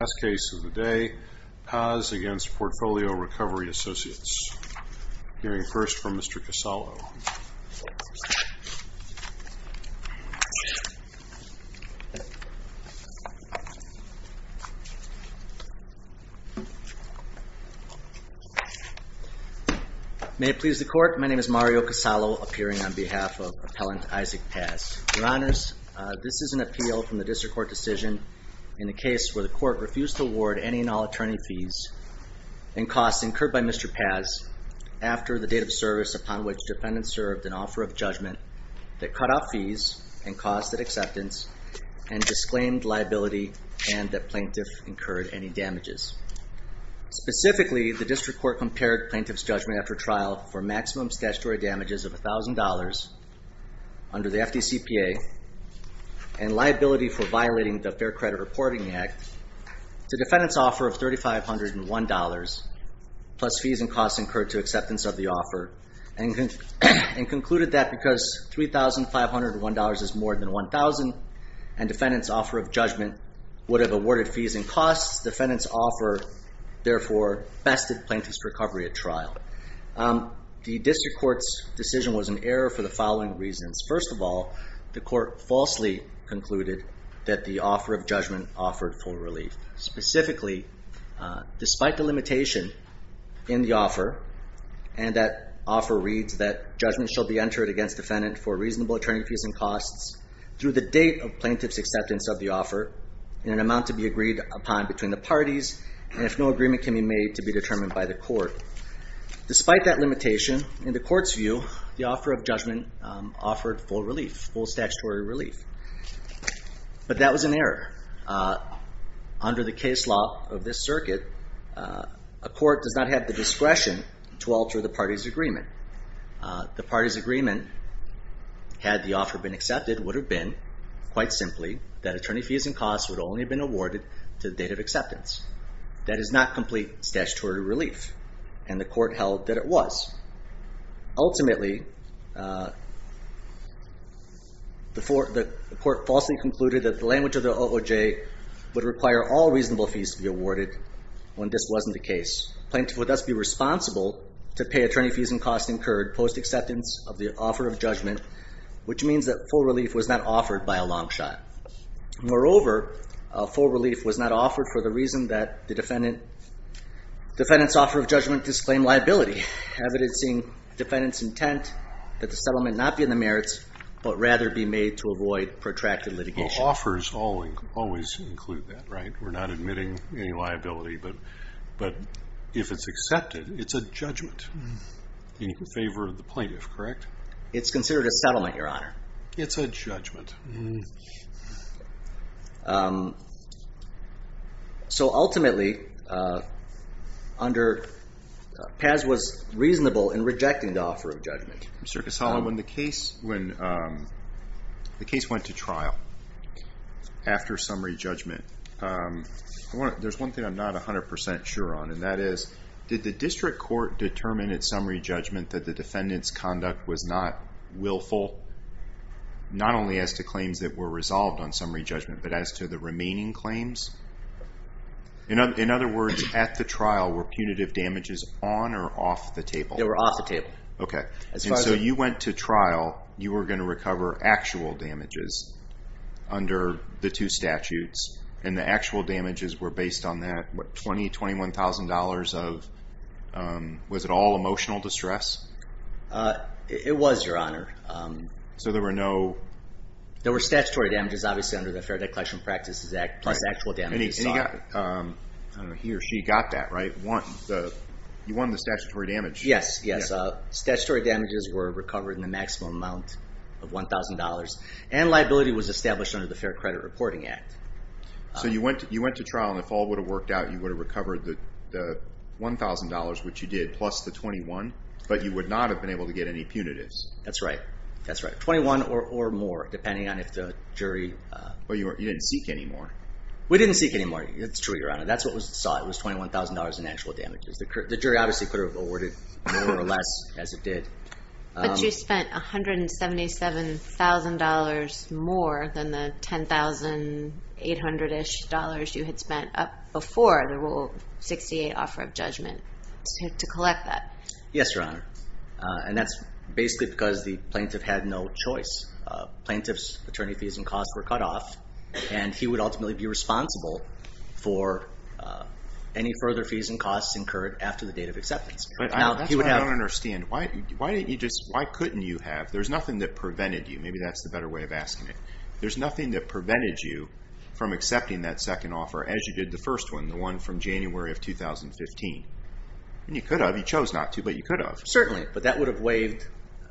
of the day, Paz v. Portfolio Recovery Associates. Hearing first from Mr. Casalo. May it please the Court, my name is Mario Casalo, appearing on behalf of Appellant Isaac Paz. Your Honors, this is an appeal from the District Court decision in the case where the Court refused to award any and all attorney fees and costs incurred by Mr. Paz after the date of service upon which defendants served an offer of judgment that cut off fees and costs at acceptance and disclaimed liability and that plaintiff incurred any damages. Specifically, the District Court compared plaintiff's judgment after trial for maximum statutory damages of $1,000 under the FDCPA and liability for violating the Fair Credit Reporting Act to defendant's offer of $3,501 plus fees and costs incurred to acceptance of the offer and concluded that because $3,501 is more than $1,000 and defendant's offer of judgment would have awarded fees and costs, defendant's offer therefore bested plaintiff's recovery at trial. The District Court's decision was an error for the following reasons. First of all, the Court falsely concluded that the offer of judgment offered full relief. Specifically, despite the limitation in the offer and that offer reads that judgment shall be entered against defendant for reasonable attorney fees and costs through the date of plaintiff's acceptance of the offer in an amount to be agreed upon between the parties and if no payment is made. Despite that limitation, in the Court's view, the offer of judgment offered full relief, full statutory relief. But that was an error. Under the case law of this circuit, a court does not have the discretion to alter the party's agreement. The party's agreement, had the offer been accepted, would have been quite simply that attorney fees and costs would only have been awarded to the date of acceptance. That is not complete statutory relief. And the Court held that it was. Ultimately, the Court falsely concluded that the language of the OOJ would require all reasonable fees to be awarded when this wasn't the case. Plaintiff would thus be responsible to pay attorney fees and costs incurred post acceptance of the offer of judgment, which means that full relief was not offered by a long shot. Moreover, full relief was not offered for the reason that the defendant's offer of judgment disclaimed liability, evidencing defendant's intent that the settlement not be in the merits, but rather be made to avoid protracted litigation. The offers always include that, right? We're not admitting any liability, but if it's accepted, it's a judgment in favor of the plaintiff, correct? It's considered a settlement, Your Honor. It's a judgment. So ultimately, Paz was reasonable in rejecting the offer of judgment. Mr. Casale, when the case went to trial after summary judgment, there's one thing I'm not 100% sure on. And that is, did the District Court determine at summary judgment that the defendant's claims were resolved on summary judgment, but as to the remaining claims? In other words, at the trial, were punitive damages on or off the table? They were off the table. Okay. And so you went to trial, you were going to recover actual damages under the two statutes, and the actual damages were based on that $20,000, $21,000 of, was it all emotional distress? It was, Your Honor. So there were no... There were statutory damages, obviously, under the Fair Declaration of Practices Act, plus actual damages. He or she got that, right? You won the statutory damage. Yes. Statutory damages were recovered in the maximum amount of $1,000, and liability was established under the Fair Credit Reporting Act. So you went to trial, and if all would have worked out, you would have recovered the $1,000, which you did, plus the $21,000, but you would not have been able to get any punitives. That's right. That's right. $21,000 or more, depending on if the jury... Well, you didn't seek any more. We didn't seek any more. It's true, Your Honor. That's what we saw. It was $21,000 in actual damages. The jury obviously could have awarded more or less, as it did. But you spent $177,000 more than the $10,800-ish you had spent up before the Rule 68 Offer of Judgment to collect that. Yes, Your Honor. And that's basically because the plaintiff had no choice. Plaintiff's attorney fees and costs were cut off, and he would ultimately be responsible for any further fees and costs incurred after the date of acceptance. But that's what I don't understand. Why couldn't you have... There's nothing that prevented you. Maybe that's the better way of asking it. There's nothing that prevented you from accepting that second offer, as you did the first one, the one from January of 2015. You could have. You chose not to, but you could have. Certainly. But that would have waived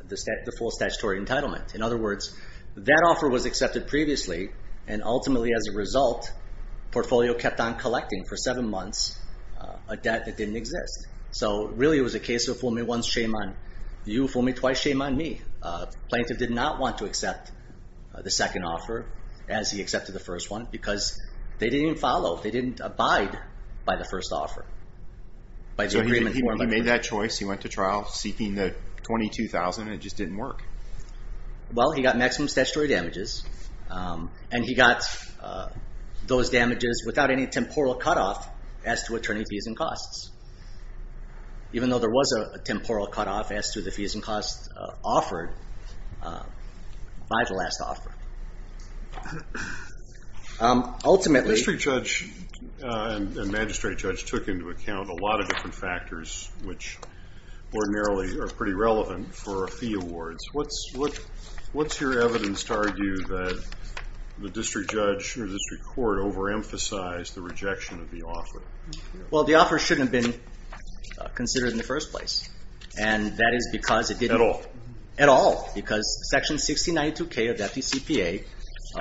the full statutory entitlement. In other words, that offer was accepted previously, and ultimately, as a result, Portfolio kept on collecting for seven years, and you fool me twice, shame on me. The plaintiff did not want to accept the second offer as he accepted the first one, because they didn't even follow. They didn't abide by the first offer. So he made that choice. He went to trial seeking the $22,000, and it just didn't work. Well, he got maximum statutory damages, and he got those damages without any temporal cutoff as to attorney fees and costs. Even though there was a temporal cutoff as to the fees and costs offered by the last offer. Ultimately... The district judge and magistrate judge took into account a lot of different factors, which ordinarily are pretty relevant for fee awards. What's your evidence to argue that the district judge or district court overemphasized the rejection of the offer? Well, the offer shouldn't have been considered in the first place, and that is because it didn't... At all. At all. Because Section 6092K of the FDCPA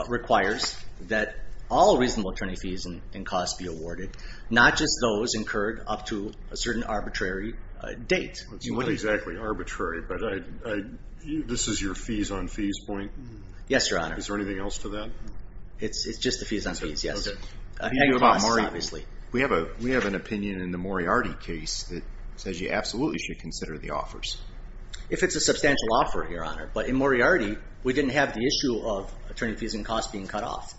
requires that all reasonable attorney fees and costs be awarded, not just those incurred up to a certain arbitrary date. It's not exactly arbitrary, but this is your fees on fees point? Yes, Your Honor. Is there anything else to that? It's just the fees on fees, yes. Any costs, obviously. We have an opinion in the Moriarty case that says you absolutely should consider the offers. If it's a substantial offer, Your Honor. But in Moriarty, we didn't have the issue of attorney fees and costs being cut off.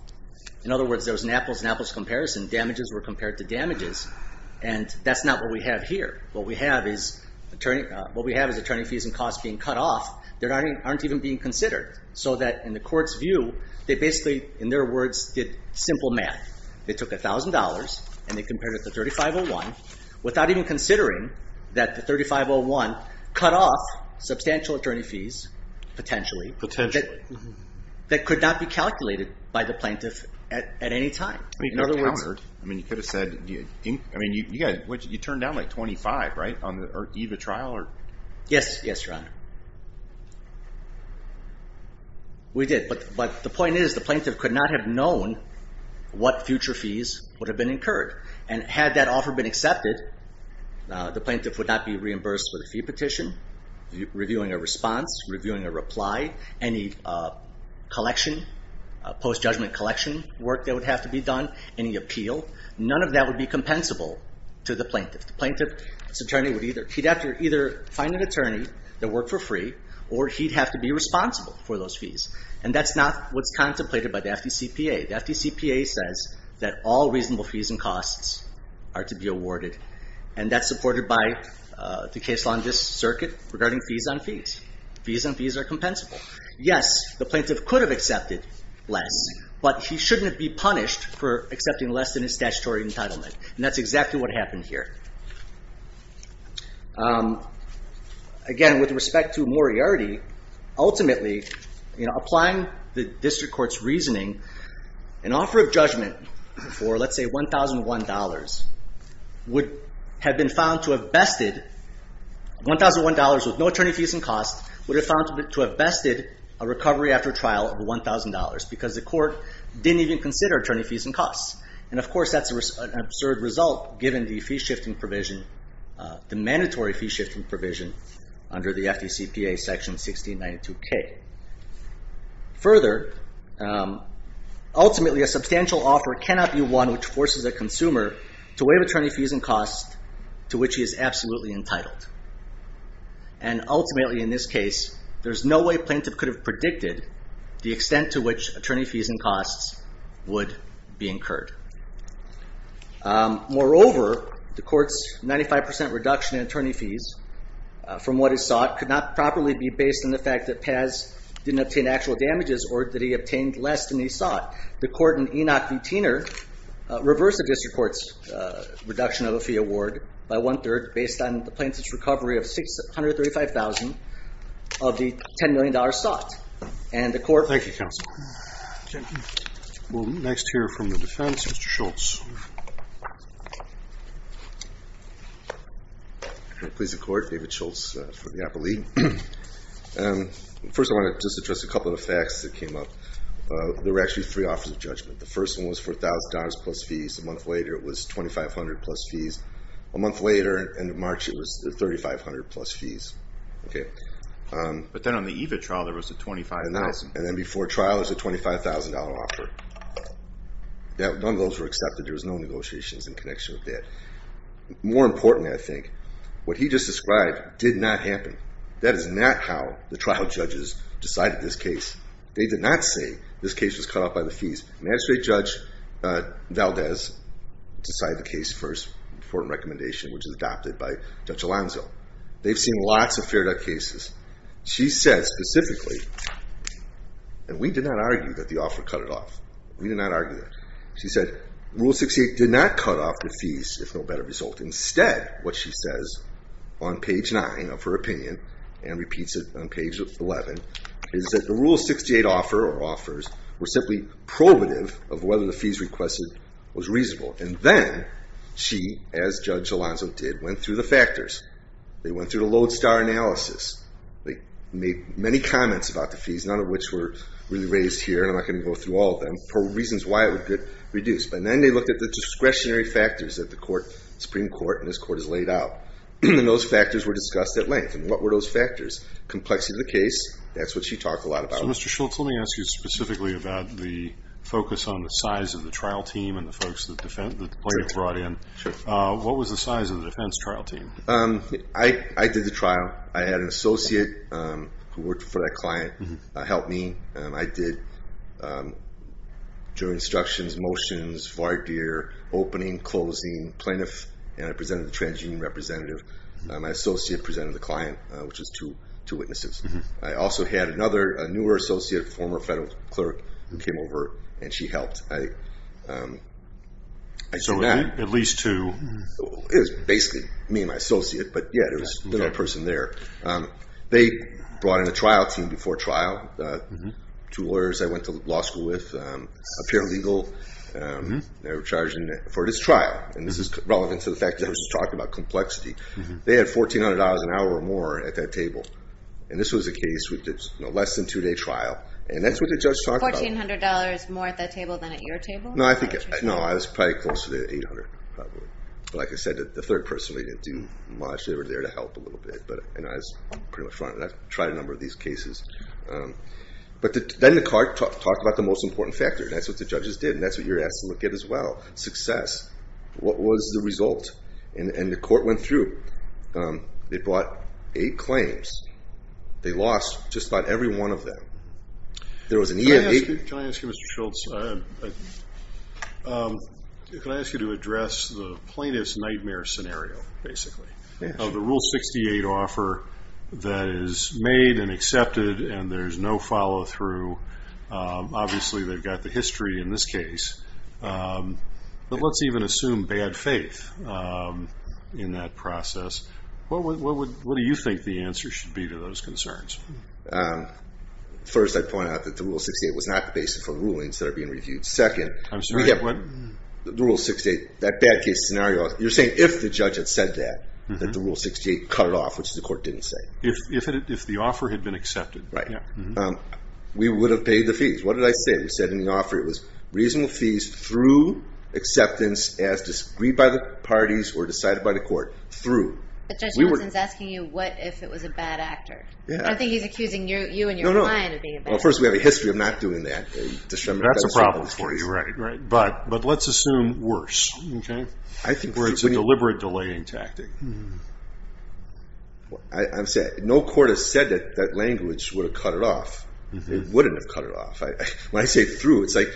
In other words, there was an apples and apples comparison. Damages were compared to damages. And that's not what we have here. What we have is attorney fees and costs being cut off that aren't even being considered. So that in the court's view, they basically, in their words, did simple math. They took $1,000 and they compared it to 3501 without even considering that the 3501 cut off substantial attorney fees, potentially, that could not be calculated by the plaintiff at any time. I mean, you could have said you turned down like 25, right, on the eve of trial? Yes, Your Honor. We did, but the point is the plaintiff could not have known what future fees would have been incurred. And had that offer been accepted, the plaintiff would not be reimbursed for the fee petition, reviewing a response, reviewing a reply, any post-judgment collection work that would have to be done, any appeal. None of that would be compensable to the plaintiff. The plaintiff's attorney would either find an attorney that worked for free, or he'd have to be responsible for those fees. And that's not what's contemplated by the FDCPA. The FDCPA says that all reasonable fees and costs are to be awarded. And that's supported by the case law in this circuit regarding fees on fees. Fees on fees are compensable. Yes, the plaintiff could have accepted less, but he shouldn't be punished for accepting less than his statutory entitlement. And that's exactly what happened here. Again, with respect to Moriarty, ultimately, applying the district court's reasoning, an offer of judgment for, let's say, $1,001 would have been found to have bested, $1,001 with no attorney fees and costs, would have been found to have bested a recovery after trial of $1,000 because the court didn't even consider attorney fees and costs. And of course, that's an absurd result given the fee-shifting provision, the mandatory fee-shifting provision under the FDCPA section 1692K. Further, ultimately, a substantial offer cannot be one which forces a consumer to waive attorney fees and costs to which he is absolutely entitled. And ultimately, in this case, there's no way a plaintiff could have predicted the extent to which attorney fees and costs would be incurred. Moreover, the court's 95% reduction in attorney fees from what is sought could not properly be based on the fact that Paz didn't obtain actual damages or that he obtained less than he sought. The court in Enoch v. Tiener reversed the district court's reduction of the fee award by one-third based on the plaintiff's recovery of $635,000 of the $10 million sought. And the court. Thank you, counsel. We'll next hear from the defense, Mr. Schultz. Please, the court. David Schultz for the Appellee. First, I want to just address a couple of facts that came up. There were actually three offers of judgment. The first one was $4,000 plus fees. A month later, it was $2,500 plus fees. A month later, in March, it was $3,500 plus fees. But then on the EVA trial, there was a $25,000. And then before trial, there was a $25,000 offer. None of those were accepted. There was no negotiations in connection with that. More importantly, I think, what he just described did not happen. That is not how the trial judges decided this case. They did not say this case was cut off by the fees. Magistrate Judge Valdez decided the case first, important recommendation, which is adopted by Judge Alonzo. They've seen lots of Fair Debt cases. She said specifically, and we did not argue that the offer cut it off. We did not argue that. She said, Rule 68 did not cut off the fees, if no better result. Instead, what she says on page 9 of her opinion, and repeats it on page 11, is that the Rule 68 offer or offers were simply probative of whether the fees requested was reasonable. And then she, as Judge Alonzo did, went through the factors. They went through the lodestar analysis. They made many comments about the fees, none of which were really raised here, and I'm not going to go through all of them, for reasons why it would get reduced. But then they looked at the discretionary factors that the Supreme Court and this Court has laid out. And those factors were discussed at length. And what were those factors? Complexity of the case, that's what she talked a lot about. So Mr. Schultz, let me ask you specifically about the focus on the size of the trial team and the folks that the plaintiff brought in. What was the size of the defense trial team? I did the trial. I had an associate who worked for that client help me. I did jury instructions, motions, voir dire, opening, closing, plaintiff, and I presented the transgene representative. My associate presented the client, which was two witnesses. I also had another, a newer associate, former federal clerk, who came over and she helped. So at least two? It was basically me and my associate, but yeah, there was a little person there. They brought in a trial team before trial. Two lawyers I went to law school with, a paralegal. They were charged for this trial. And this is relevant to the fact that I was just talking about complexity. They had $1,400 an hour or more at that table. And this was a case with less than two day trial. And that's what the judge talked about. $1,400 more at that table than at your table? No, I was probably close to the $800 probably. But like I said, the third person really didn't do much. They were there to help a little bit, but I was pretty much front end. I've tried a number of these cases. But then the court talked about the most important factor. And that's what the judges did. And that's what you're asked to look at as well. Success. What was the result? And the court went through. They brought eight claims. They lost just about every one of them. There was an EIA. Can I ask you, Mr. Schultz, can I ask you to address the plaintiff's nightmare scenario basically of the Rule 68 offer that is made and accepted and there's no follow through. Obviously they've got the history in this case. But let's even assume bad faith in that process. What do you think the answer should be to those concerns? First, I'd point out that the Rule 68 was not the basis for the rulings that are being reviewed. Second, the Rule 68, that bad case scenario, you're saying if the judge had said that, that the Rule 68 cut it off, which the court didn't say. If the offer had been accepted. Right. We would have paid the fees. What did I say? We said in the offer it was reasonable fees through acceptance as disagreed by the parties or decided by the court through. But Judge Nelson's asking you what if it was a bad actor. I don't think he's accusing you and your client of being a bad actor. First, we have a history of not doing that. That's a problem for you. Right. But let's assume worse. Deliberate delaying tactic. No court has said that language would have cut it off. It wouldn't have cut it off. When I say through, it's like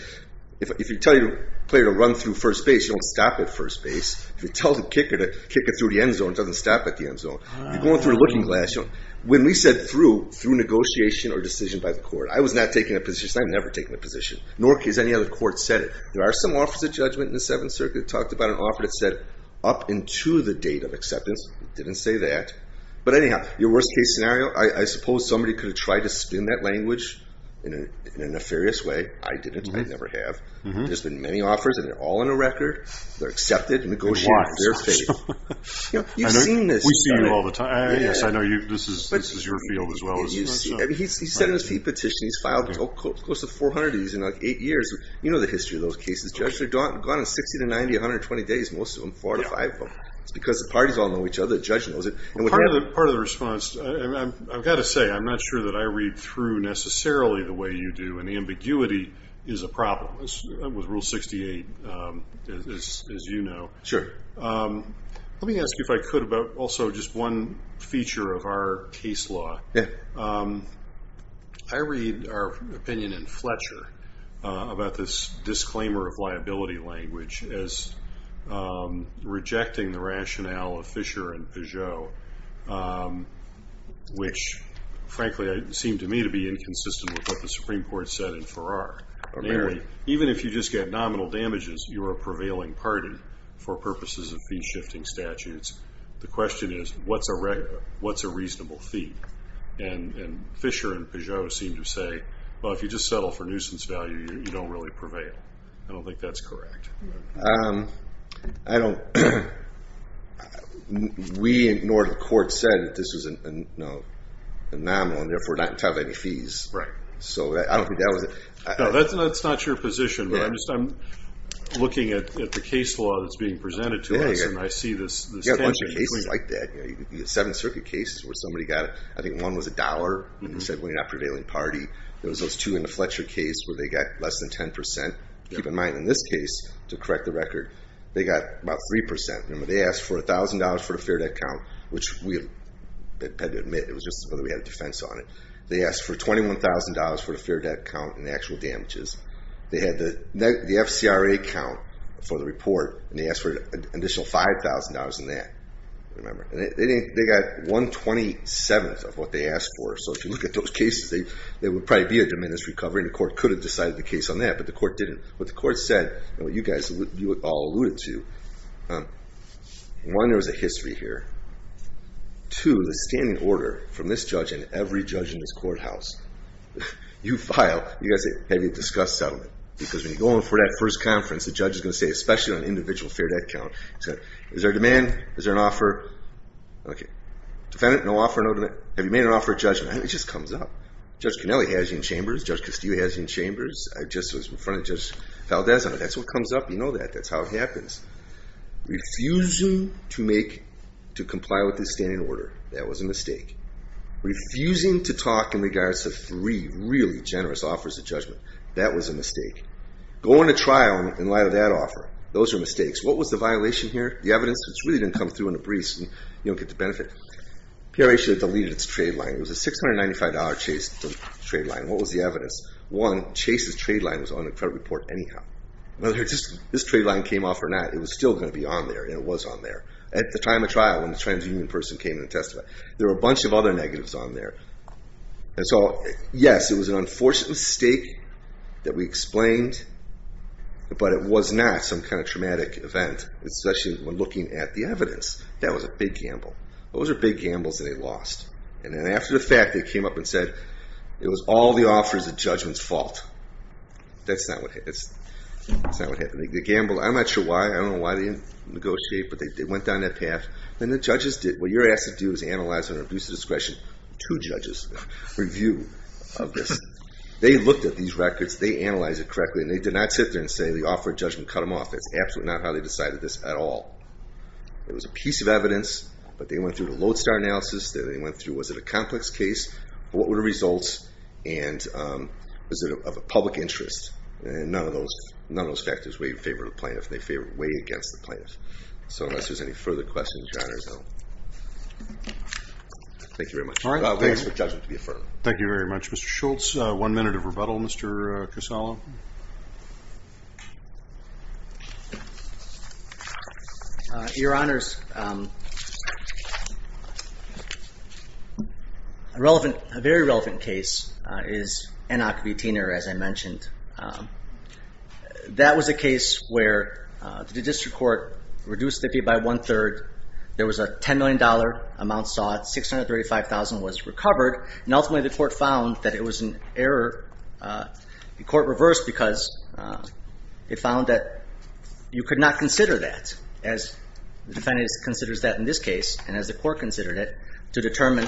if you tell your player to run through first base, you don't stop at first base. If you tell the kicker to kick it through the end zone, it doesn't stop at the end zone. You're going through a looking glass. When we said through, through negotiation or decision by the court. I was not taking a position. I've never taken a position. Nor has any other court said it. There are some offers of judgment in the Seventh Circuit that talked about an offer that said up into the date of acceptance. It didn't say that. But anyhow, your worst case scenario, I suppose somebody could have tried to spin that language in a nefarious way. I didn't. I never have. There's been many offers, and they're all on a record. They're accepted. Negotiate. They're fair. You've seen this. We see you all the time. Yes, I know this is your field as well. He's filed close to 400 of these in eight years. You know the history of those cases. Judge, they're gone in 60 to 90, 120 days. Most of them, four to five of them. It's because the parties all know each other. The judge knows it. Part of the response, I've got to say, I'm not sure that I read through necessarily the way you do. Ambiguity is a problem with Rule 68, as you know. Let me ask you if I could about also just one feature of our case law. I read our opinion in Fletcher about this disclaimer of liability language as rejecting the rationale of Fisher and Peugeot, which frankly seemed to me to be inconsistent with what the Supreme Court said in Farrar. Even if you just get nominal damages, you're a prevailing party for purposes of fee-shifting statutes. The question is, what's a reasonable fee? Fisher and Peugeot seem to say, well, if you just settle for nuisance value, you don't really prevail. I don't think that's correct. We ignored what the court said, that this was a nominal and therefore not entitled to any fees. I don't think that was it. No, that's not your position. I'm looking at the case law that's being presented to us, and I see this tangent. You have a bunch of cases like that. The Seventh Circuit case where somebody got, I think one was a dollar, and they said, well, you're not a prevailing party. There was those two in the Fletcher case where they got less than 10%. Keep in mind, in this case, to correct the record, they got about 3%. Remember, they asked for $1,000 for a fair debt count, which we had to admit, it was just whether we had a defense on it. They asked for $21,000 for the fair debt count and the actual damages. They had the FCRA count for the report, and they asked for an additional $5,000 in that. Remember, they got 127th of what they asked for. If you look at those cases, there would probably be a diminished recovery, and the court could have decided the case on that, but the court didn't. What the court said, and what you all alluded to, one, there was a history here. Two, the standing order from this judge and every judge in this courthouse. You file, you guys say, have you discussed settlement? Because when you go in for that first conference, the judge is going to say, especially on an individual fair debt count, is there a demand? Is there an offer? Defendant, no offer, no demand. Have you made an offer at judgment? It just comes up. Judge Cannelli has you in chambers. Judge Castillo has you in chambers. I just was in front of Judge Valdesano. That's what comes up. You know that. That's how it happens. Refusing to comply with the standing order, that was a mistake. Refusing to talk in regards to three really generous offers of judgment, that was a mistake. Going to trial in light of that offer, those are mistakes. What was the violation here? The evidence, which really didn't come through in a breeze, and you don't get the benefit. PRH had deleted its trade line. It was a $695 Chase trade line. What was the evidence? One, Chase's trade line was on the credit report anyhow. Whether this trade line came off or not, it was still going to be on there, and it was on there. At the time of trial, when the transhuman person came in to testify, there were a bunch of other negatives on there. Yes, it was an unfortunate mistake that we explained, but it was not some kind of traumatic event, especially when looking at the evidence. That was a big gamble. Those are big gambles that they lost, and then after the fact, they came up and said, it was all the offers of judgment's fault. That's not what happened. They gambled. I'm not sure why. I don't know why they didn't negotiate, but they went down that path. What you're asked to do is analyze under abuse of discretion two judges' review of this. They looked at these records. They analyzed it correctly, and they did not sit there and say, the offer of judgment cut them off. That's absolutely not how they decided this at all. It was a piece of evidence, but they went through the Lodestar analysis. They went through, was it a complex case, what were the results, and was it of a public interest? None of those factors favored the plaintiff. They favored way against the plaintiff. So unless there's any further questions, Your Honor, thank you very much. Thanks for the judgment to be affirmed. Thank you very much, Mr. Schultz. One minute of rebuttal, Mr. Casalo. Your Honors, a very relevant case is Anacapitina, as I mentioned. That was a case where the district court reduced the fee by one-third. There was a $10 million amount sought. $635,000 was recovered. And ultimately the court found that it was an error. The court reversed because it found that you could not consider that, as the defendant considers that in this case, and as the court considered it, to determine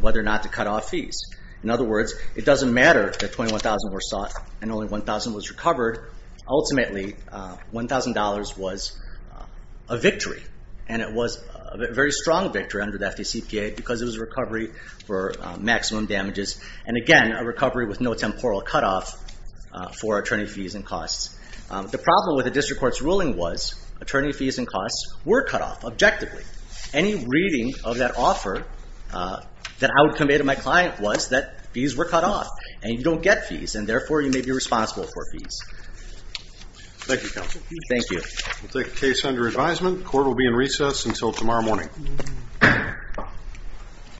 whether or not to cut off fees. In other words, it doesn't matter that $21,000 were sought and only $1,000 was recovered. Ultimately, $1,000 was a victory. And it was a very strong victory under the FDCPA because it was a recovery for maximum damages. And again, a recovery with no temporal cutoff for attorney fees and costs. The problem with the district court's ruling was attorney fees and costs were cut off, objectively. Any reading of that offer that I would convey to my client was that fees were cut off, and you don't get fees, and therefore you may be responsible for fees. Thank you, Counsel. We'll take the case under advisement. The court will be in recess until tomorrow morning.